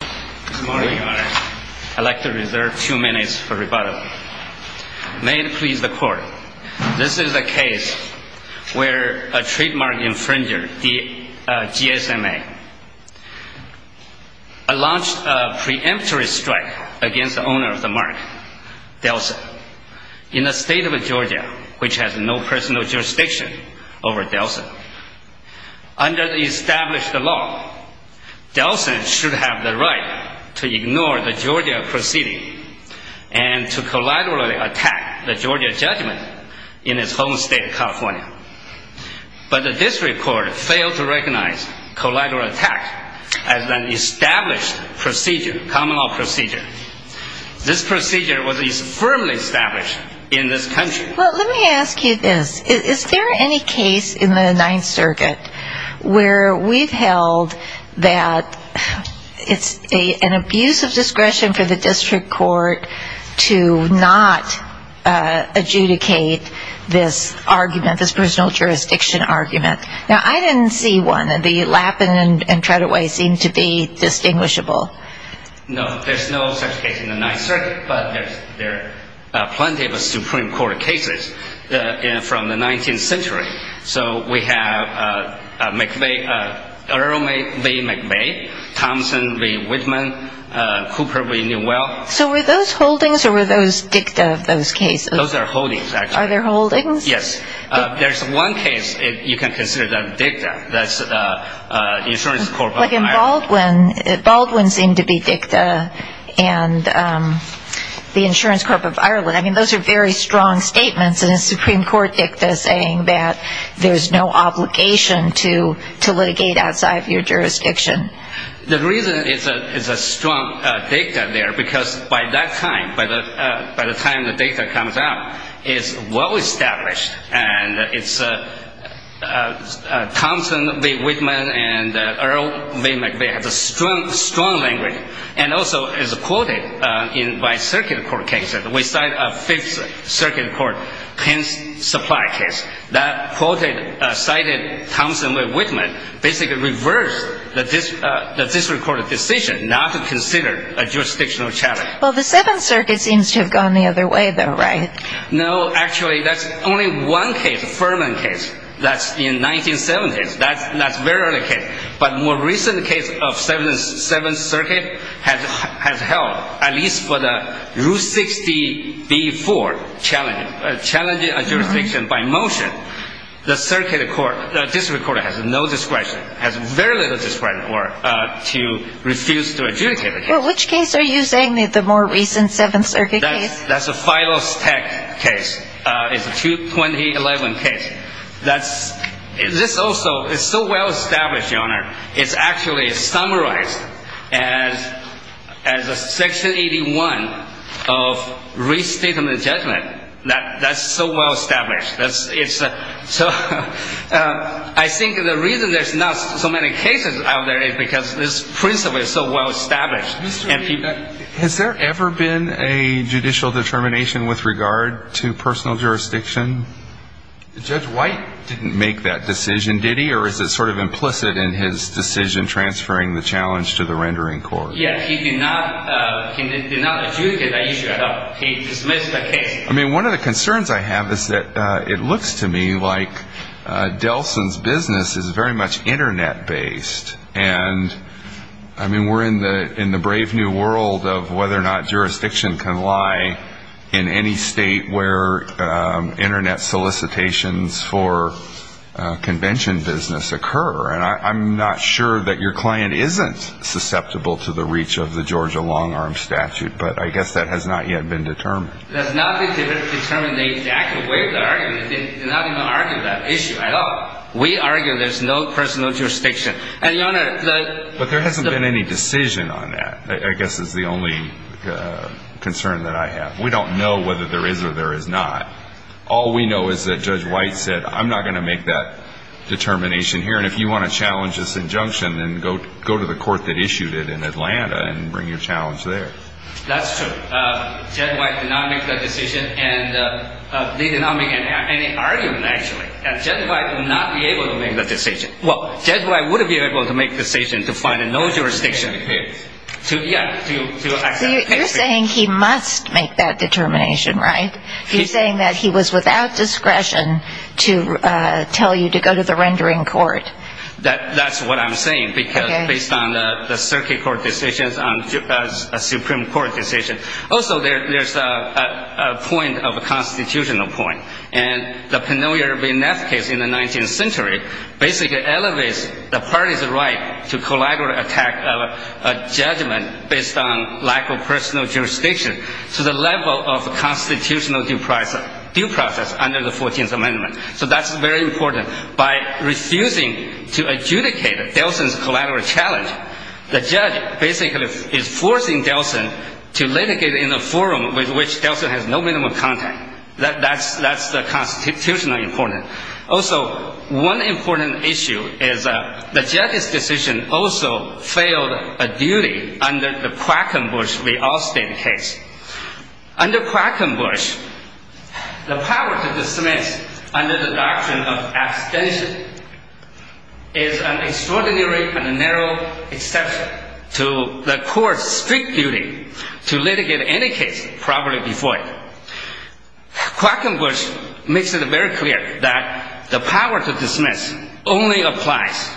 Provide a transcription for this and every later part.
Good morning, Your Honor. I'd like to reserve a few minutes for rebuttal. May it please the Court, this is a case where a trademark infringer, GSMA, launched a preemptory strike against the owner of the mark, Delson, in the state of Georgia, which has no personal jurisdiction over Delson. Under the established law, Delson should have the right to ignore the Georgia proceeding and to collaterally attack the Georgia judgment in his home state of California. But the district court failed to recognize collateral attack as an established procedure, common law procedure. This procedure was firmly established in this country. Well, let me ask you this. Is there any case in the Ninth Circuit where we've held that it's an abuse of discretion for the district court to not adjudicate this argument, this personal jurisdiction argument? Now, I didn't see one. The Lappin and Tretaway seem to be distinguishable. No, there's no such case in the Ninth Circuit, but there are plenty of Supreme Court cases from the 19th century. So we have Earl B. McVeigh, Thomson v. Whitman, Cooper v. Newell. So were those holdings or were those dicta of those cases? Those are holdings, actually. Are they holdings? Yes. There's one case you can consider that dicta, that's Insurance Corp. Like in Baldwin, Baldwin seemed to be dicta and the Insurance Corp. of Ireland. I mean, those are very strong statements in a Supreme Court dicta saying that there's no obligation to litigate outside of your jurisdiction. The reason it's a strong dicta there, because by that time, by the time the dicta comes out, it's well established. And it's Thomson v. Whitman and Earl B. McVeigh have a strong language. And also, as quoted in my circuit court case, we cite a Fifth Circuit court, hence supply case, that quoted, cited Thomson v. Whitman, basically reversed the district court decision not to consider a jurisdictional challenge. Well, the Seventh Circuit seems to have gone the other way, though, right? No, actually, that's only one case, Furman case, that's in 1970s. That's very early case. But more recent case of Seventh Circuit has held, at least for the Rule 60b-4, challenging a jurisdiction by motion. The circuit court, the district court has no discretion, has very little discretion to refuse to adjudicate the case. Well, which case are you saying, the more recent Seventh Circuit case? That's a final stack case. It's a 2011 case. This also is so well established, Your Honor. It's actually summarized as Section 81 of Restatement Judgment. That's so well established. So I think the reason there's not so many cases out there is because this principle is so well established. Has there ever been a judicial determination with regard to personal jurisdiction? Judge White didn't make that decision, did he? Or is it sort of implicit in his decision transferring the challenge to the rendering court? Yes, he did not adjudicate that issue at all. He dismissed the case. I mean, one of the concerns I have is that it looks to me like Delson's business is very much Internet-based. And, I mean, we're in the brave new world of whether or not jurisdiction can lie in any state where Internet solicitations for convention business occur. And I'm not sure that your client isn't susceptible to the reach of the Georgia long-arm statute, but I guess that has not yet been determined. It has not been determined the exact way of the argument. They're not going to argue that issue at all. We argue there's no personal jurisdiction. But there hasn't been any decision on that, I guess is the only concern that I have. We don't know whether there is or there is not. All we know is that Judge White said, I'm not going to make that determination here, and if you want to challenge this injunction, then go to the court that issued it in Atlanta and bring your challenge there. That's true. Judge White did not make that decision, and he did not make any argument, actually. Judge White would not be able to make that decision. Well, Judge White would be able to make the decision to find no jurisdiction. You're saying he must make that determination, right? He's saying that he was without discretion to tell you to go to the rendering court. That's what I'm saying, because based on the circuit court decisions, on a Supreme Court decision, also there's a point of a constitutional point. And the Penelope Neff case in the 19th century basically elevates the party's right to collaterally attack a judgment based on lack of personal jurisdiction to the level of constitutional due process under the 14th Amendment. So that's very important. By refusing to adjudicate Delson's collateral challenge, the judge basically is forcing Delson to litigate in a forum with which Delson has no minimum of contact. That's the constitutional importance. Also, one important issue is the judge's decision also failed a duty under the Quackenbush v. Austin case. Under Quackenbush, the power to dismiss under the doctrine of abstention is an extraordinary and narrow exception to the court's strict duty to litigate any case properly before it. Quackenbush makes it very clear that the power to dismiss only applies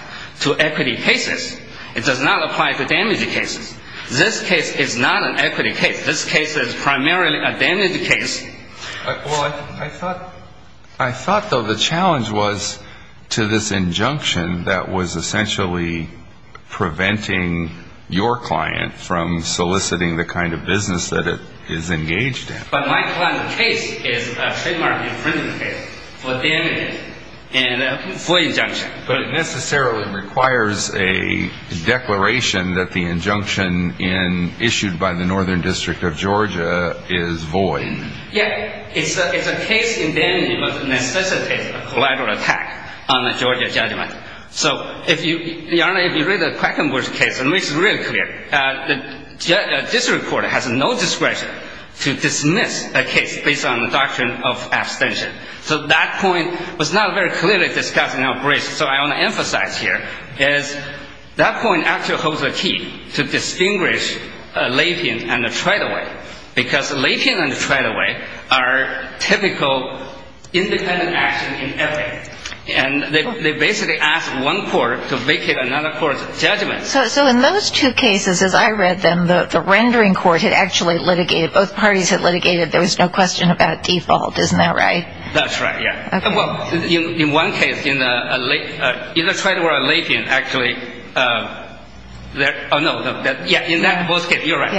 to equity cases. It does not apply to damage cases. This case is not an equity case. This case is primarily a damage case. Well, I thought, though, the challenge was to this injunction that was essentially preventing your client from soliciting the kind of business that it is engaged in. But my client's case is a trademark infringement case for damage and for injunction. But it necessarily requires a declaration that the injunction issued by the Northern District of Georgia is void. Yeah. It's a case in damage that necessitates a collateral attack on the Georgia judgment. So, Your Honor, if you read the Quackenbush case, it makes it really clear that this Court has no discretion to dismiss a case based on the doctrine of abstention. So that point was not very clearly discussed in our briefs. So I want to emphasize here is that point actually holds the key to distinguish latent and the tried-away, because latent and the tried-away are typical independent action in ethics. And they basically ask one court to vacate another court's judgment. So in those two cases, as I read them, the rendering court had actually litigated. Both parties had litigated. There was no question about default. Isn't that right? That's right, yeah. Well, in one case, either tried-away or latent, actually. Oh, no. Yeah, in both cases. You're right.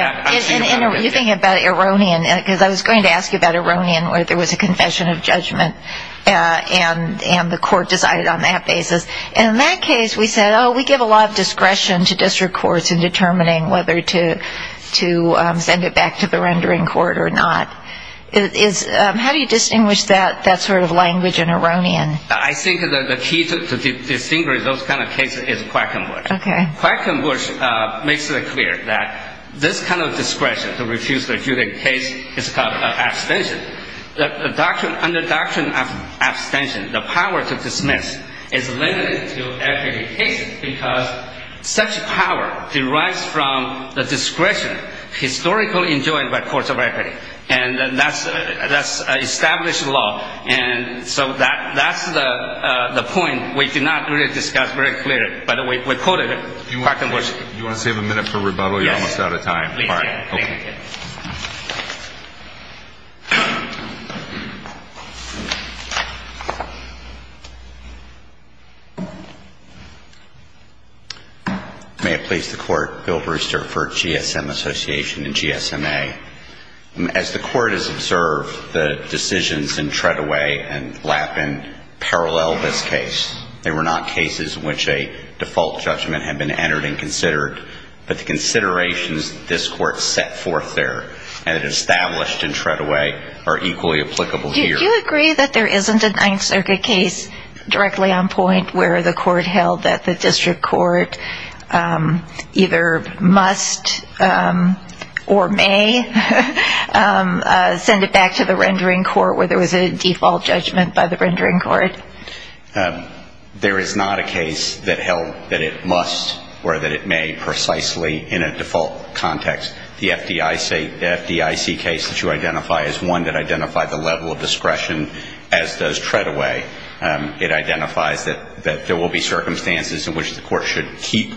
You're thinking about Eronian, because I was going to ask you about Eronian, where there was a confession of judgment and the court decided on that basis. And in that case, we said, oh, we give a lot of discretion to district courts in determining whether to send it back to the rendering court or not. How do you distinguish that sort of language in Eronian? I think the key to distinguish those kind of cases is Quackenbush. Okay. Quackenbush makes it clear that this kind of discretion to refuse a case is called abstention. Under doctrine of abstention, the power to dismiss is limited to equity cases because such power derives from the discretion historically enjoyed by courts of equity. And that's established law. And so that's the point we did not really discuss very clearly. But we quoted Quackenbush. Do you want to save a minute for rebuttal? Yes. You're almost out of time. Please. All right. Thank you. May it please the Court, Bill Brewster for GSM Association and GSMA. As the Court has observed, the decisions in Treadaway and Lappin parallel this case. They were not cases in which a default judgment had been entered and considered, but the considerations that this Court set forth there and it established in Treadaway are equally applicable here. Do you agree that there isn't a Ninth Circuit case directly on point where the Court held that the district court either must or may send it back to the rendering court where there was a default judgment by the rendering court? There is not a case that held that it must or that it may precisely in a default context. The FDIC case that you identify is one that identified the level of discretion as does Treadaway. It identifies that there will be circumstances in which the court should keep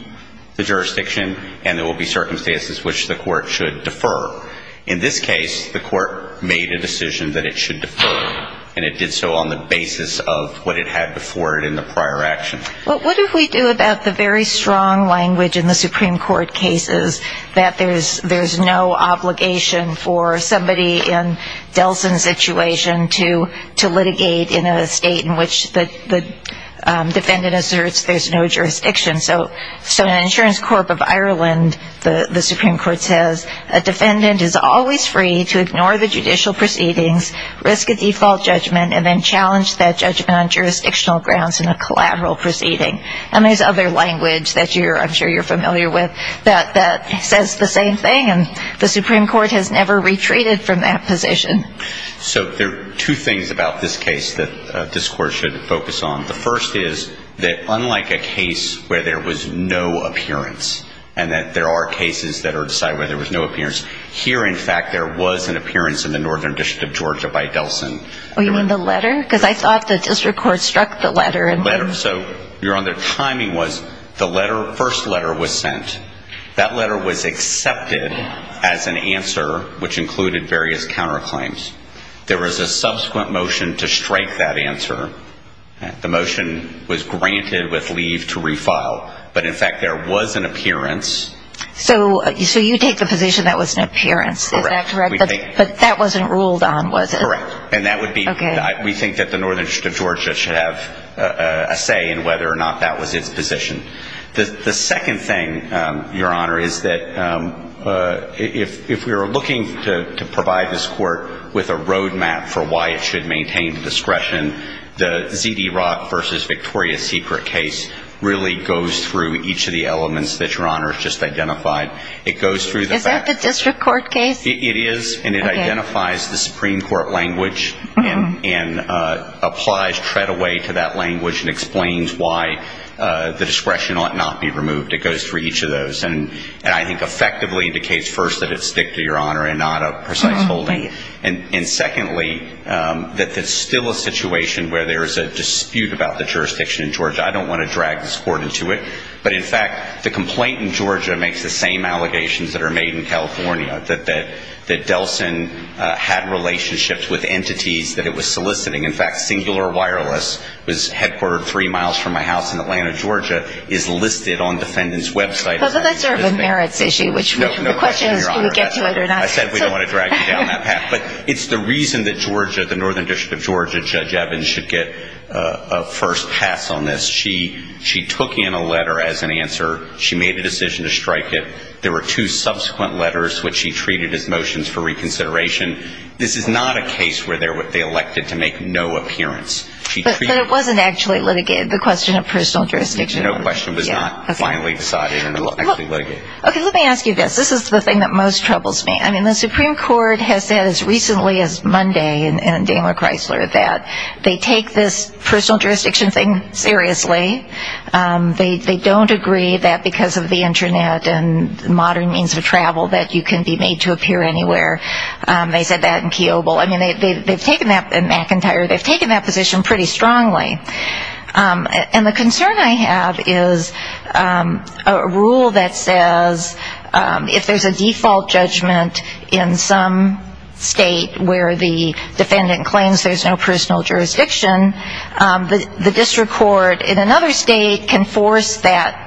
the jurisdiction and there will be circumstances in which the court should defer. In this case, the court made a decision that it should defer, and it did so on the basis of what it had before it in the prior action. Well, what if we do about the very strong language in the Supreme Court cases that there's no obligation for somebody in Delson's situation to litigate in a state in which the defendant asserts there's no jurisdiction. So an insurance corp of Ireland, the Supreme Court says, a defendant is always free to ignore the judicial proceedings, risk a default judgment, and then challenge that judgment on jurisdictional grounds in a collateral proceeding. And there's other language that I'm sure you're familiar with that says the same thing, and the Supreme Court has never retreated from that position. So there are two things about this case that this Court should focus on. The first is that unlike a case where there was no appearance and that there are cases that are decided where there was no appearance, here, in fact, there was an appearance in the Northern District of Georgia by Delson. Oh, you mean the letter? Because I thought the district court struck the letter. The letter. So your timing was the first letter was sent. That letter was accepted as an answer, which included various counterclaims. There was a subsequent motion to strike that answer. The motion was granted with leave to refile. But, in fact, there was an appearance. So you take the position that was an appearance. Is that correct? Correct. We take that. But that wasn't ruled on, was it? Correct. And that would be we think that the Northern District of Georgia should have a say in whether or not that was its position. The second thing, Your Honor, is that if we were looking to provide this Court with a road map for why it should maintain the discretion, the Z.D. Rock v. Victoria Secret case really goes through each of the elements that Your Honor has just identified. It goes through the facts. Is that the district court case? It is. And it identifies the Supreme Court language and applies, tread away to that language and explains why the discretion ought not be removed. It goes through each of those. And I think effectively indicates, first, that it's stick to Your Honor and not a precise holding. And, secondly, that there's still a situation where there is a dispute about the jurisdiction in Georgia. I don't want to drag this Court into it. But, in fact, the complaint in Georgia makes the same allegations that are made in California, that Delson had relationships with entities that it was soliciting. In fact, Singular Wireless was headquartered three miles from my house in Atlanta, Georgia, is listed on the defendant's website. But that's sort of a merits issue, which the question is do we get to it or not. I said we don't want to drag you down that path. But it's the reason that Georgia, the Northern District of Georgia, Judge Evans should get a first pass on this. She took in a letter as an answer. She made a decision to strike it. There were two subsequent letters, which she treated as motions for reconsideration. This is not a case where they elected to make no appearance. But it wasn't actually litigated, the question of personal jurisdiction. No question was not finally decided and actually litigated. Okay, let me ask you this. This is the thing that most troubles me. I mean, the Supreme Court has said as recently as Monday in Daniel Chrysler that they take this personal jurisdiction thing seriously. They don't agree that because of the Internet and modern means of travel that you can be made to appear anywhere. They said that in Kiobel. I mean, they've taken that in McIntyre. They've taken that position pretty strongly. And the concern I have is a rule that says if there's a default judgment in some state where the defendant claims there's no personal jurisdiction, the district court in another state can force that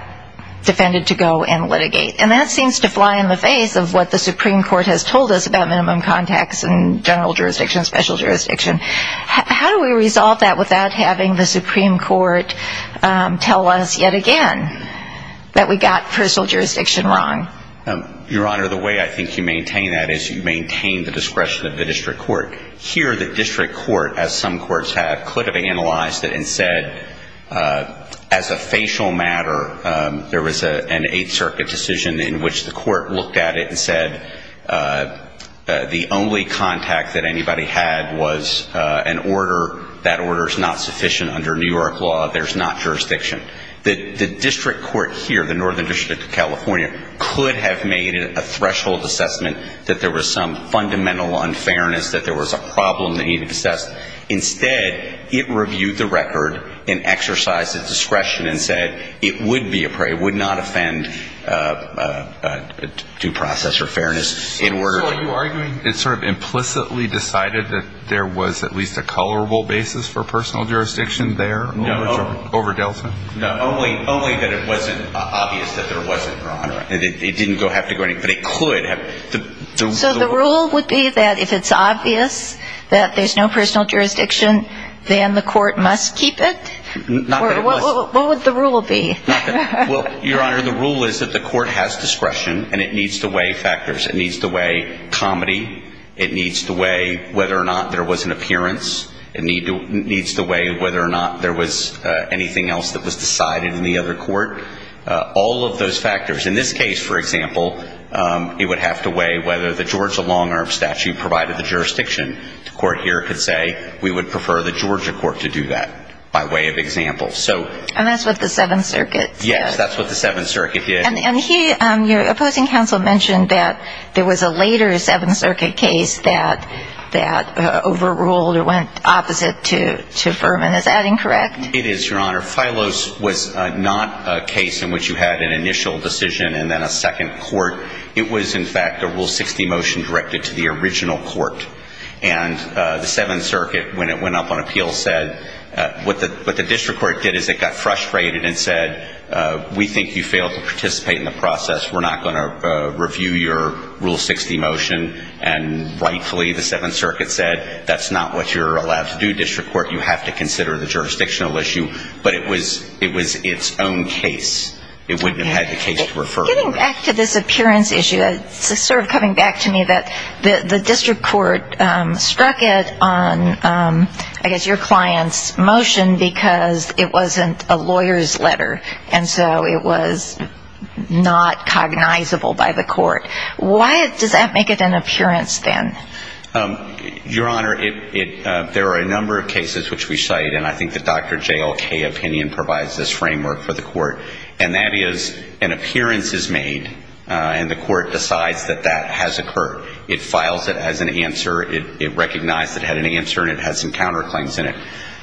defendant to go and litigate. And that seems to fly in the face of what the Supreme Court has told us about minimum contacts and general jurisdiction, special jurisdiction. How do we resolve that without having the Supreme Court tell us yet again that we got personal jurisdiction wrong? Your Honor, the way I think you maintain that is you maintain the discretion of the district court. Here the district court, as some courts have, could have analyzed it and said as a facial matter, there was an Eighth Circuit decision in which the court looked at it and said the only contact that anybody had was an order. That order is not sufficient under New York law. There's not jurisdiction. The district court here, the Northern District of California, could have made a threshold assessment that there was some fundamental unfairness, that there was a problem that needed to be assessed. Instead, it reviewed the record and exercised its discretion and said it would be a due process or fairness in order. So are you arguing it sort of implicitly decided that there was at least a colorable basis for personal jurisdiction there over Delson? No, only that it wasn't obvious that there wasn't, Your Honor. It didn't have to go anywhere, but it could have. So the rule would be that if it's obvious that there's no personal jurisdiction, then the court must keep it? Not that it must. What would the rule be? Well, Your Honor, the rule is that the court has discretion and it needs to weigh factors. It needs to weigh comedy. It needs to weigh whether or not there was an appearance. It needs to weigh whether or not there was anything else that was decided in the other court. All of those factors. In this case, for example, it would have to weigh whether the Georgia long-arm statute provided the jurisdiction. The court here could say we would prefer the Georgia court to do that by way of example. And that's what the Seventh Circuit said? Yes, that's what the Seventh Circuit did. And your opposing counsel mentioned that there was a later Seventh Circuit case that overruled or went opposite to Furman. Is that incorrect? It is, Your Honor. Phylos was not a case in which you had an initial decision and then a second court. It was, in fact, a Rule 60 motion directed to the original court. And the Seventh Circuit, when it went up on appeal, said what the district court did is it got frustrated and said we think you failed to participate in the process. We're not going to review your Rule 60 motion. And rightfully, the Seventh Circuit said that's not what you're allowed to do, district court. You have to consider the jurisdictional issue. But it was its own case. It wouldn't have had the case to refer to. Getting back to this appearance issue, it's sort of coming back to me that the district court struck it on, I guess, your client's motion because it wasn't a lawyer's letter. And so it was not cognizable by the court. Why does that make it an appearance then? Your Honor, there are a number of cases which we cite, and I think the Dr. JLK opinion provides this framework for the court. And that is an appearance is made, and the court decides that that has occurred. It files it as an answer. It recognized it had an answer, and it had some counterclaims in it.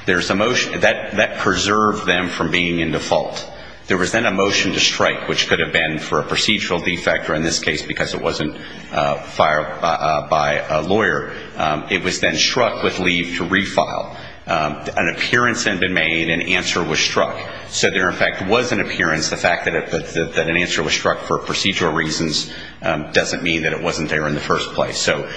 That preserved them from being in default. There was then a motion to strike, which could have been for a procedural defect, or in this case because it wasn't fired by a lawyer. It was then struck with leave to refile. An appearance had been made. An answer was struck. So there, in fact, was an appearance. The fact that an answer was struck for procedural reasons doesn't mean that it wasn't there in the first place. So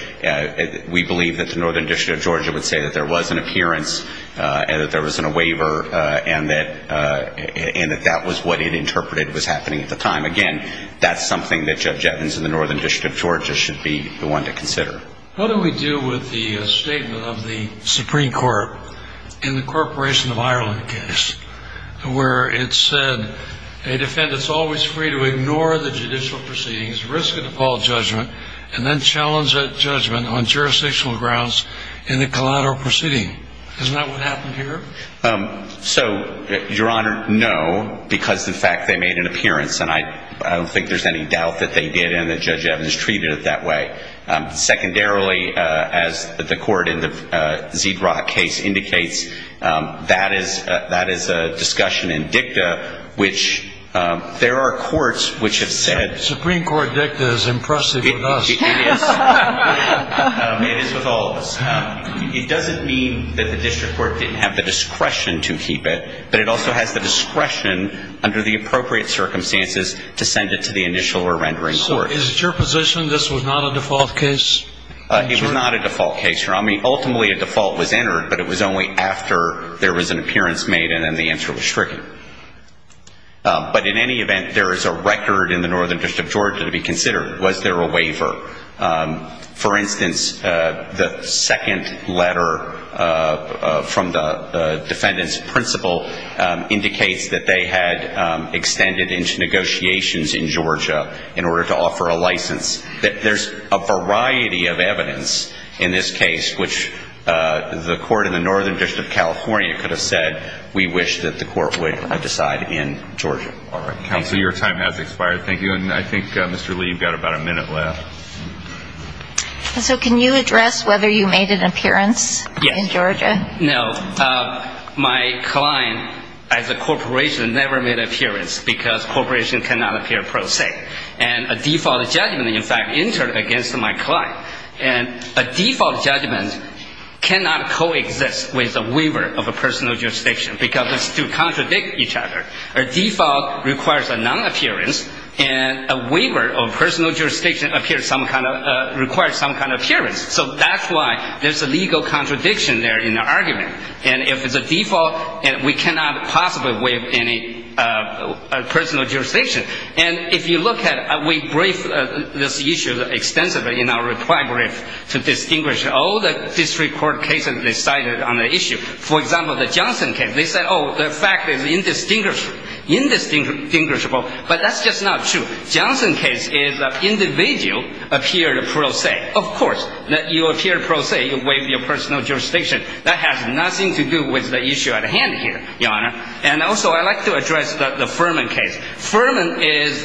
we believe that the Northern District of Georgia would say that there was an appearance and that there was a waiver and that that was what it interpreted was happening at the time. Again, that's something that Judge Evans in the Northern District of Georgia should be the one to consider. What do we do with the statement of the Supreme Court in the Corporation of Ireland case where it said a defendant is always free to ignore the judicial proceedings, risk an appalled judgment, and then challenge that judgment on jurisdictional grounds in the collateral proceeding? Isn't that what happened here? So, Your Honor, no, because, in fact, they made an appearance, and I don't think there's any doubt that they did and that Judge Evans treated it that way. Secondarily, as the court in the Zedrock case indicates, that is a discussion in dicta which there are courts which have said. Supreme Court dicta is impressive with us. It is. It is with all of us. It doesn't mean that the district court didn't have the discretion to keep it, but it also has the discretion under the appropriate circumstances to send it to the initial or rendering court. Your Honor, is it your position this was not a default case? It was not a default case, Your Honor. I mean, ultimately, a default was entered, but it was only after there was an appearance made, and then the answer was stricken. But in any event, there is a record in the Northern District of Georgia to be considered. Was there a waiver? For instance, the second letter from the defendant's principal indicates that they had extended into negotiations in Georgia in order to offer a license. There's a variety of evidence in this case which the court in the Northern District of California could have said, we wish that the court would decide in Georgia. All right. Counsel, your time has expired. Thank you. And I think, Mr. Lee, you've got about a minute left. So can you address whether you made an appearance in Georgia? No. My client, as a corporation, never made an appearance because corporations cannot appear per se. And a default judgment, in fact, entered against my client. And a default judgment cannot coexist with a waiver of a personal jurisdiction because those two contradict each other. A default requires a non-appearance, and a waiver of personal jurisdiction requires some kind of appearance. So that's why there's a legal contradiction there in the argument. And if it's a default, we cannot possibly waive any personal jurisdiction. And if you look at it, we briefed this issue extensively in our reply brief to distinguish all the district court cases they cited on the issue. For example, the Johnson case, they said, oh, the fact is indistinguishable. But that's just not true. Johnson case is an individual appeared per se. Of course, you appear per se, you waive your personal jurisdiction. That has nothing to do with the issue at hand here, Your Honor. And also I'd like to address the Furman case. Furman is,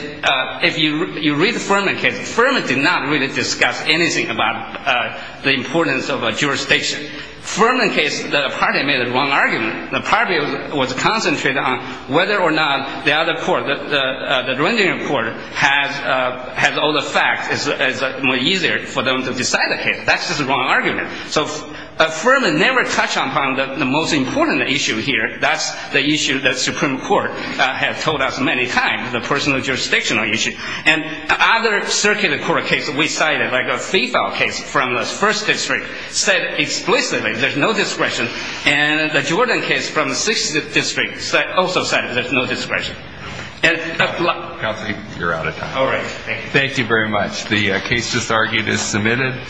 if you read the Furman case, Furman did not really discuss anything about the importance of a jurisdiction. Furman case, the party made the wrong argument. The party was concentrated on whether or not the other court, the Dredgen court, had all the facts. It's easier for them to decide the case. That's just a wrong argument. So Furman never touched upon the most important issue here. That's the issue that Supreme Court had told us many times, the personal jurisdictional issue. And other circuit court cases we cited, like a FIFO case from the first district, said explicitly there's no discretion. And the Jordan case from the sixth district also said there's no discretion. Counsel, you're out of time. All right. Thank you. Thank you very much. The case just argued is submitted.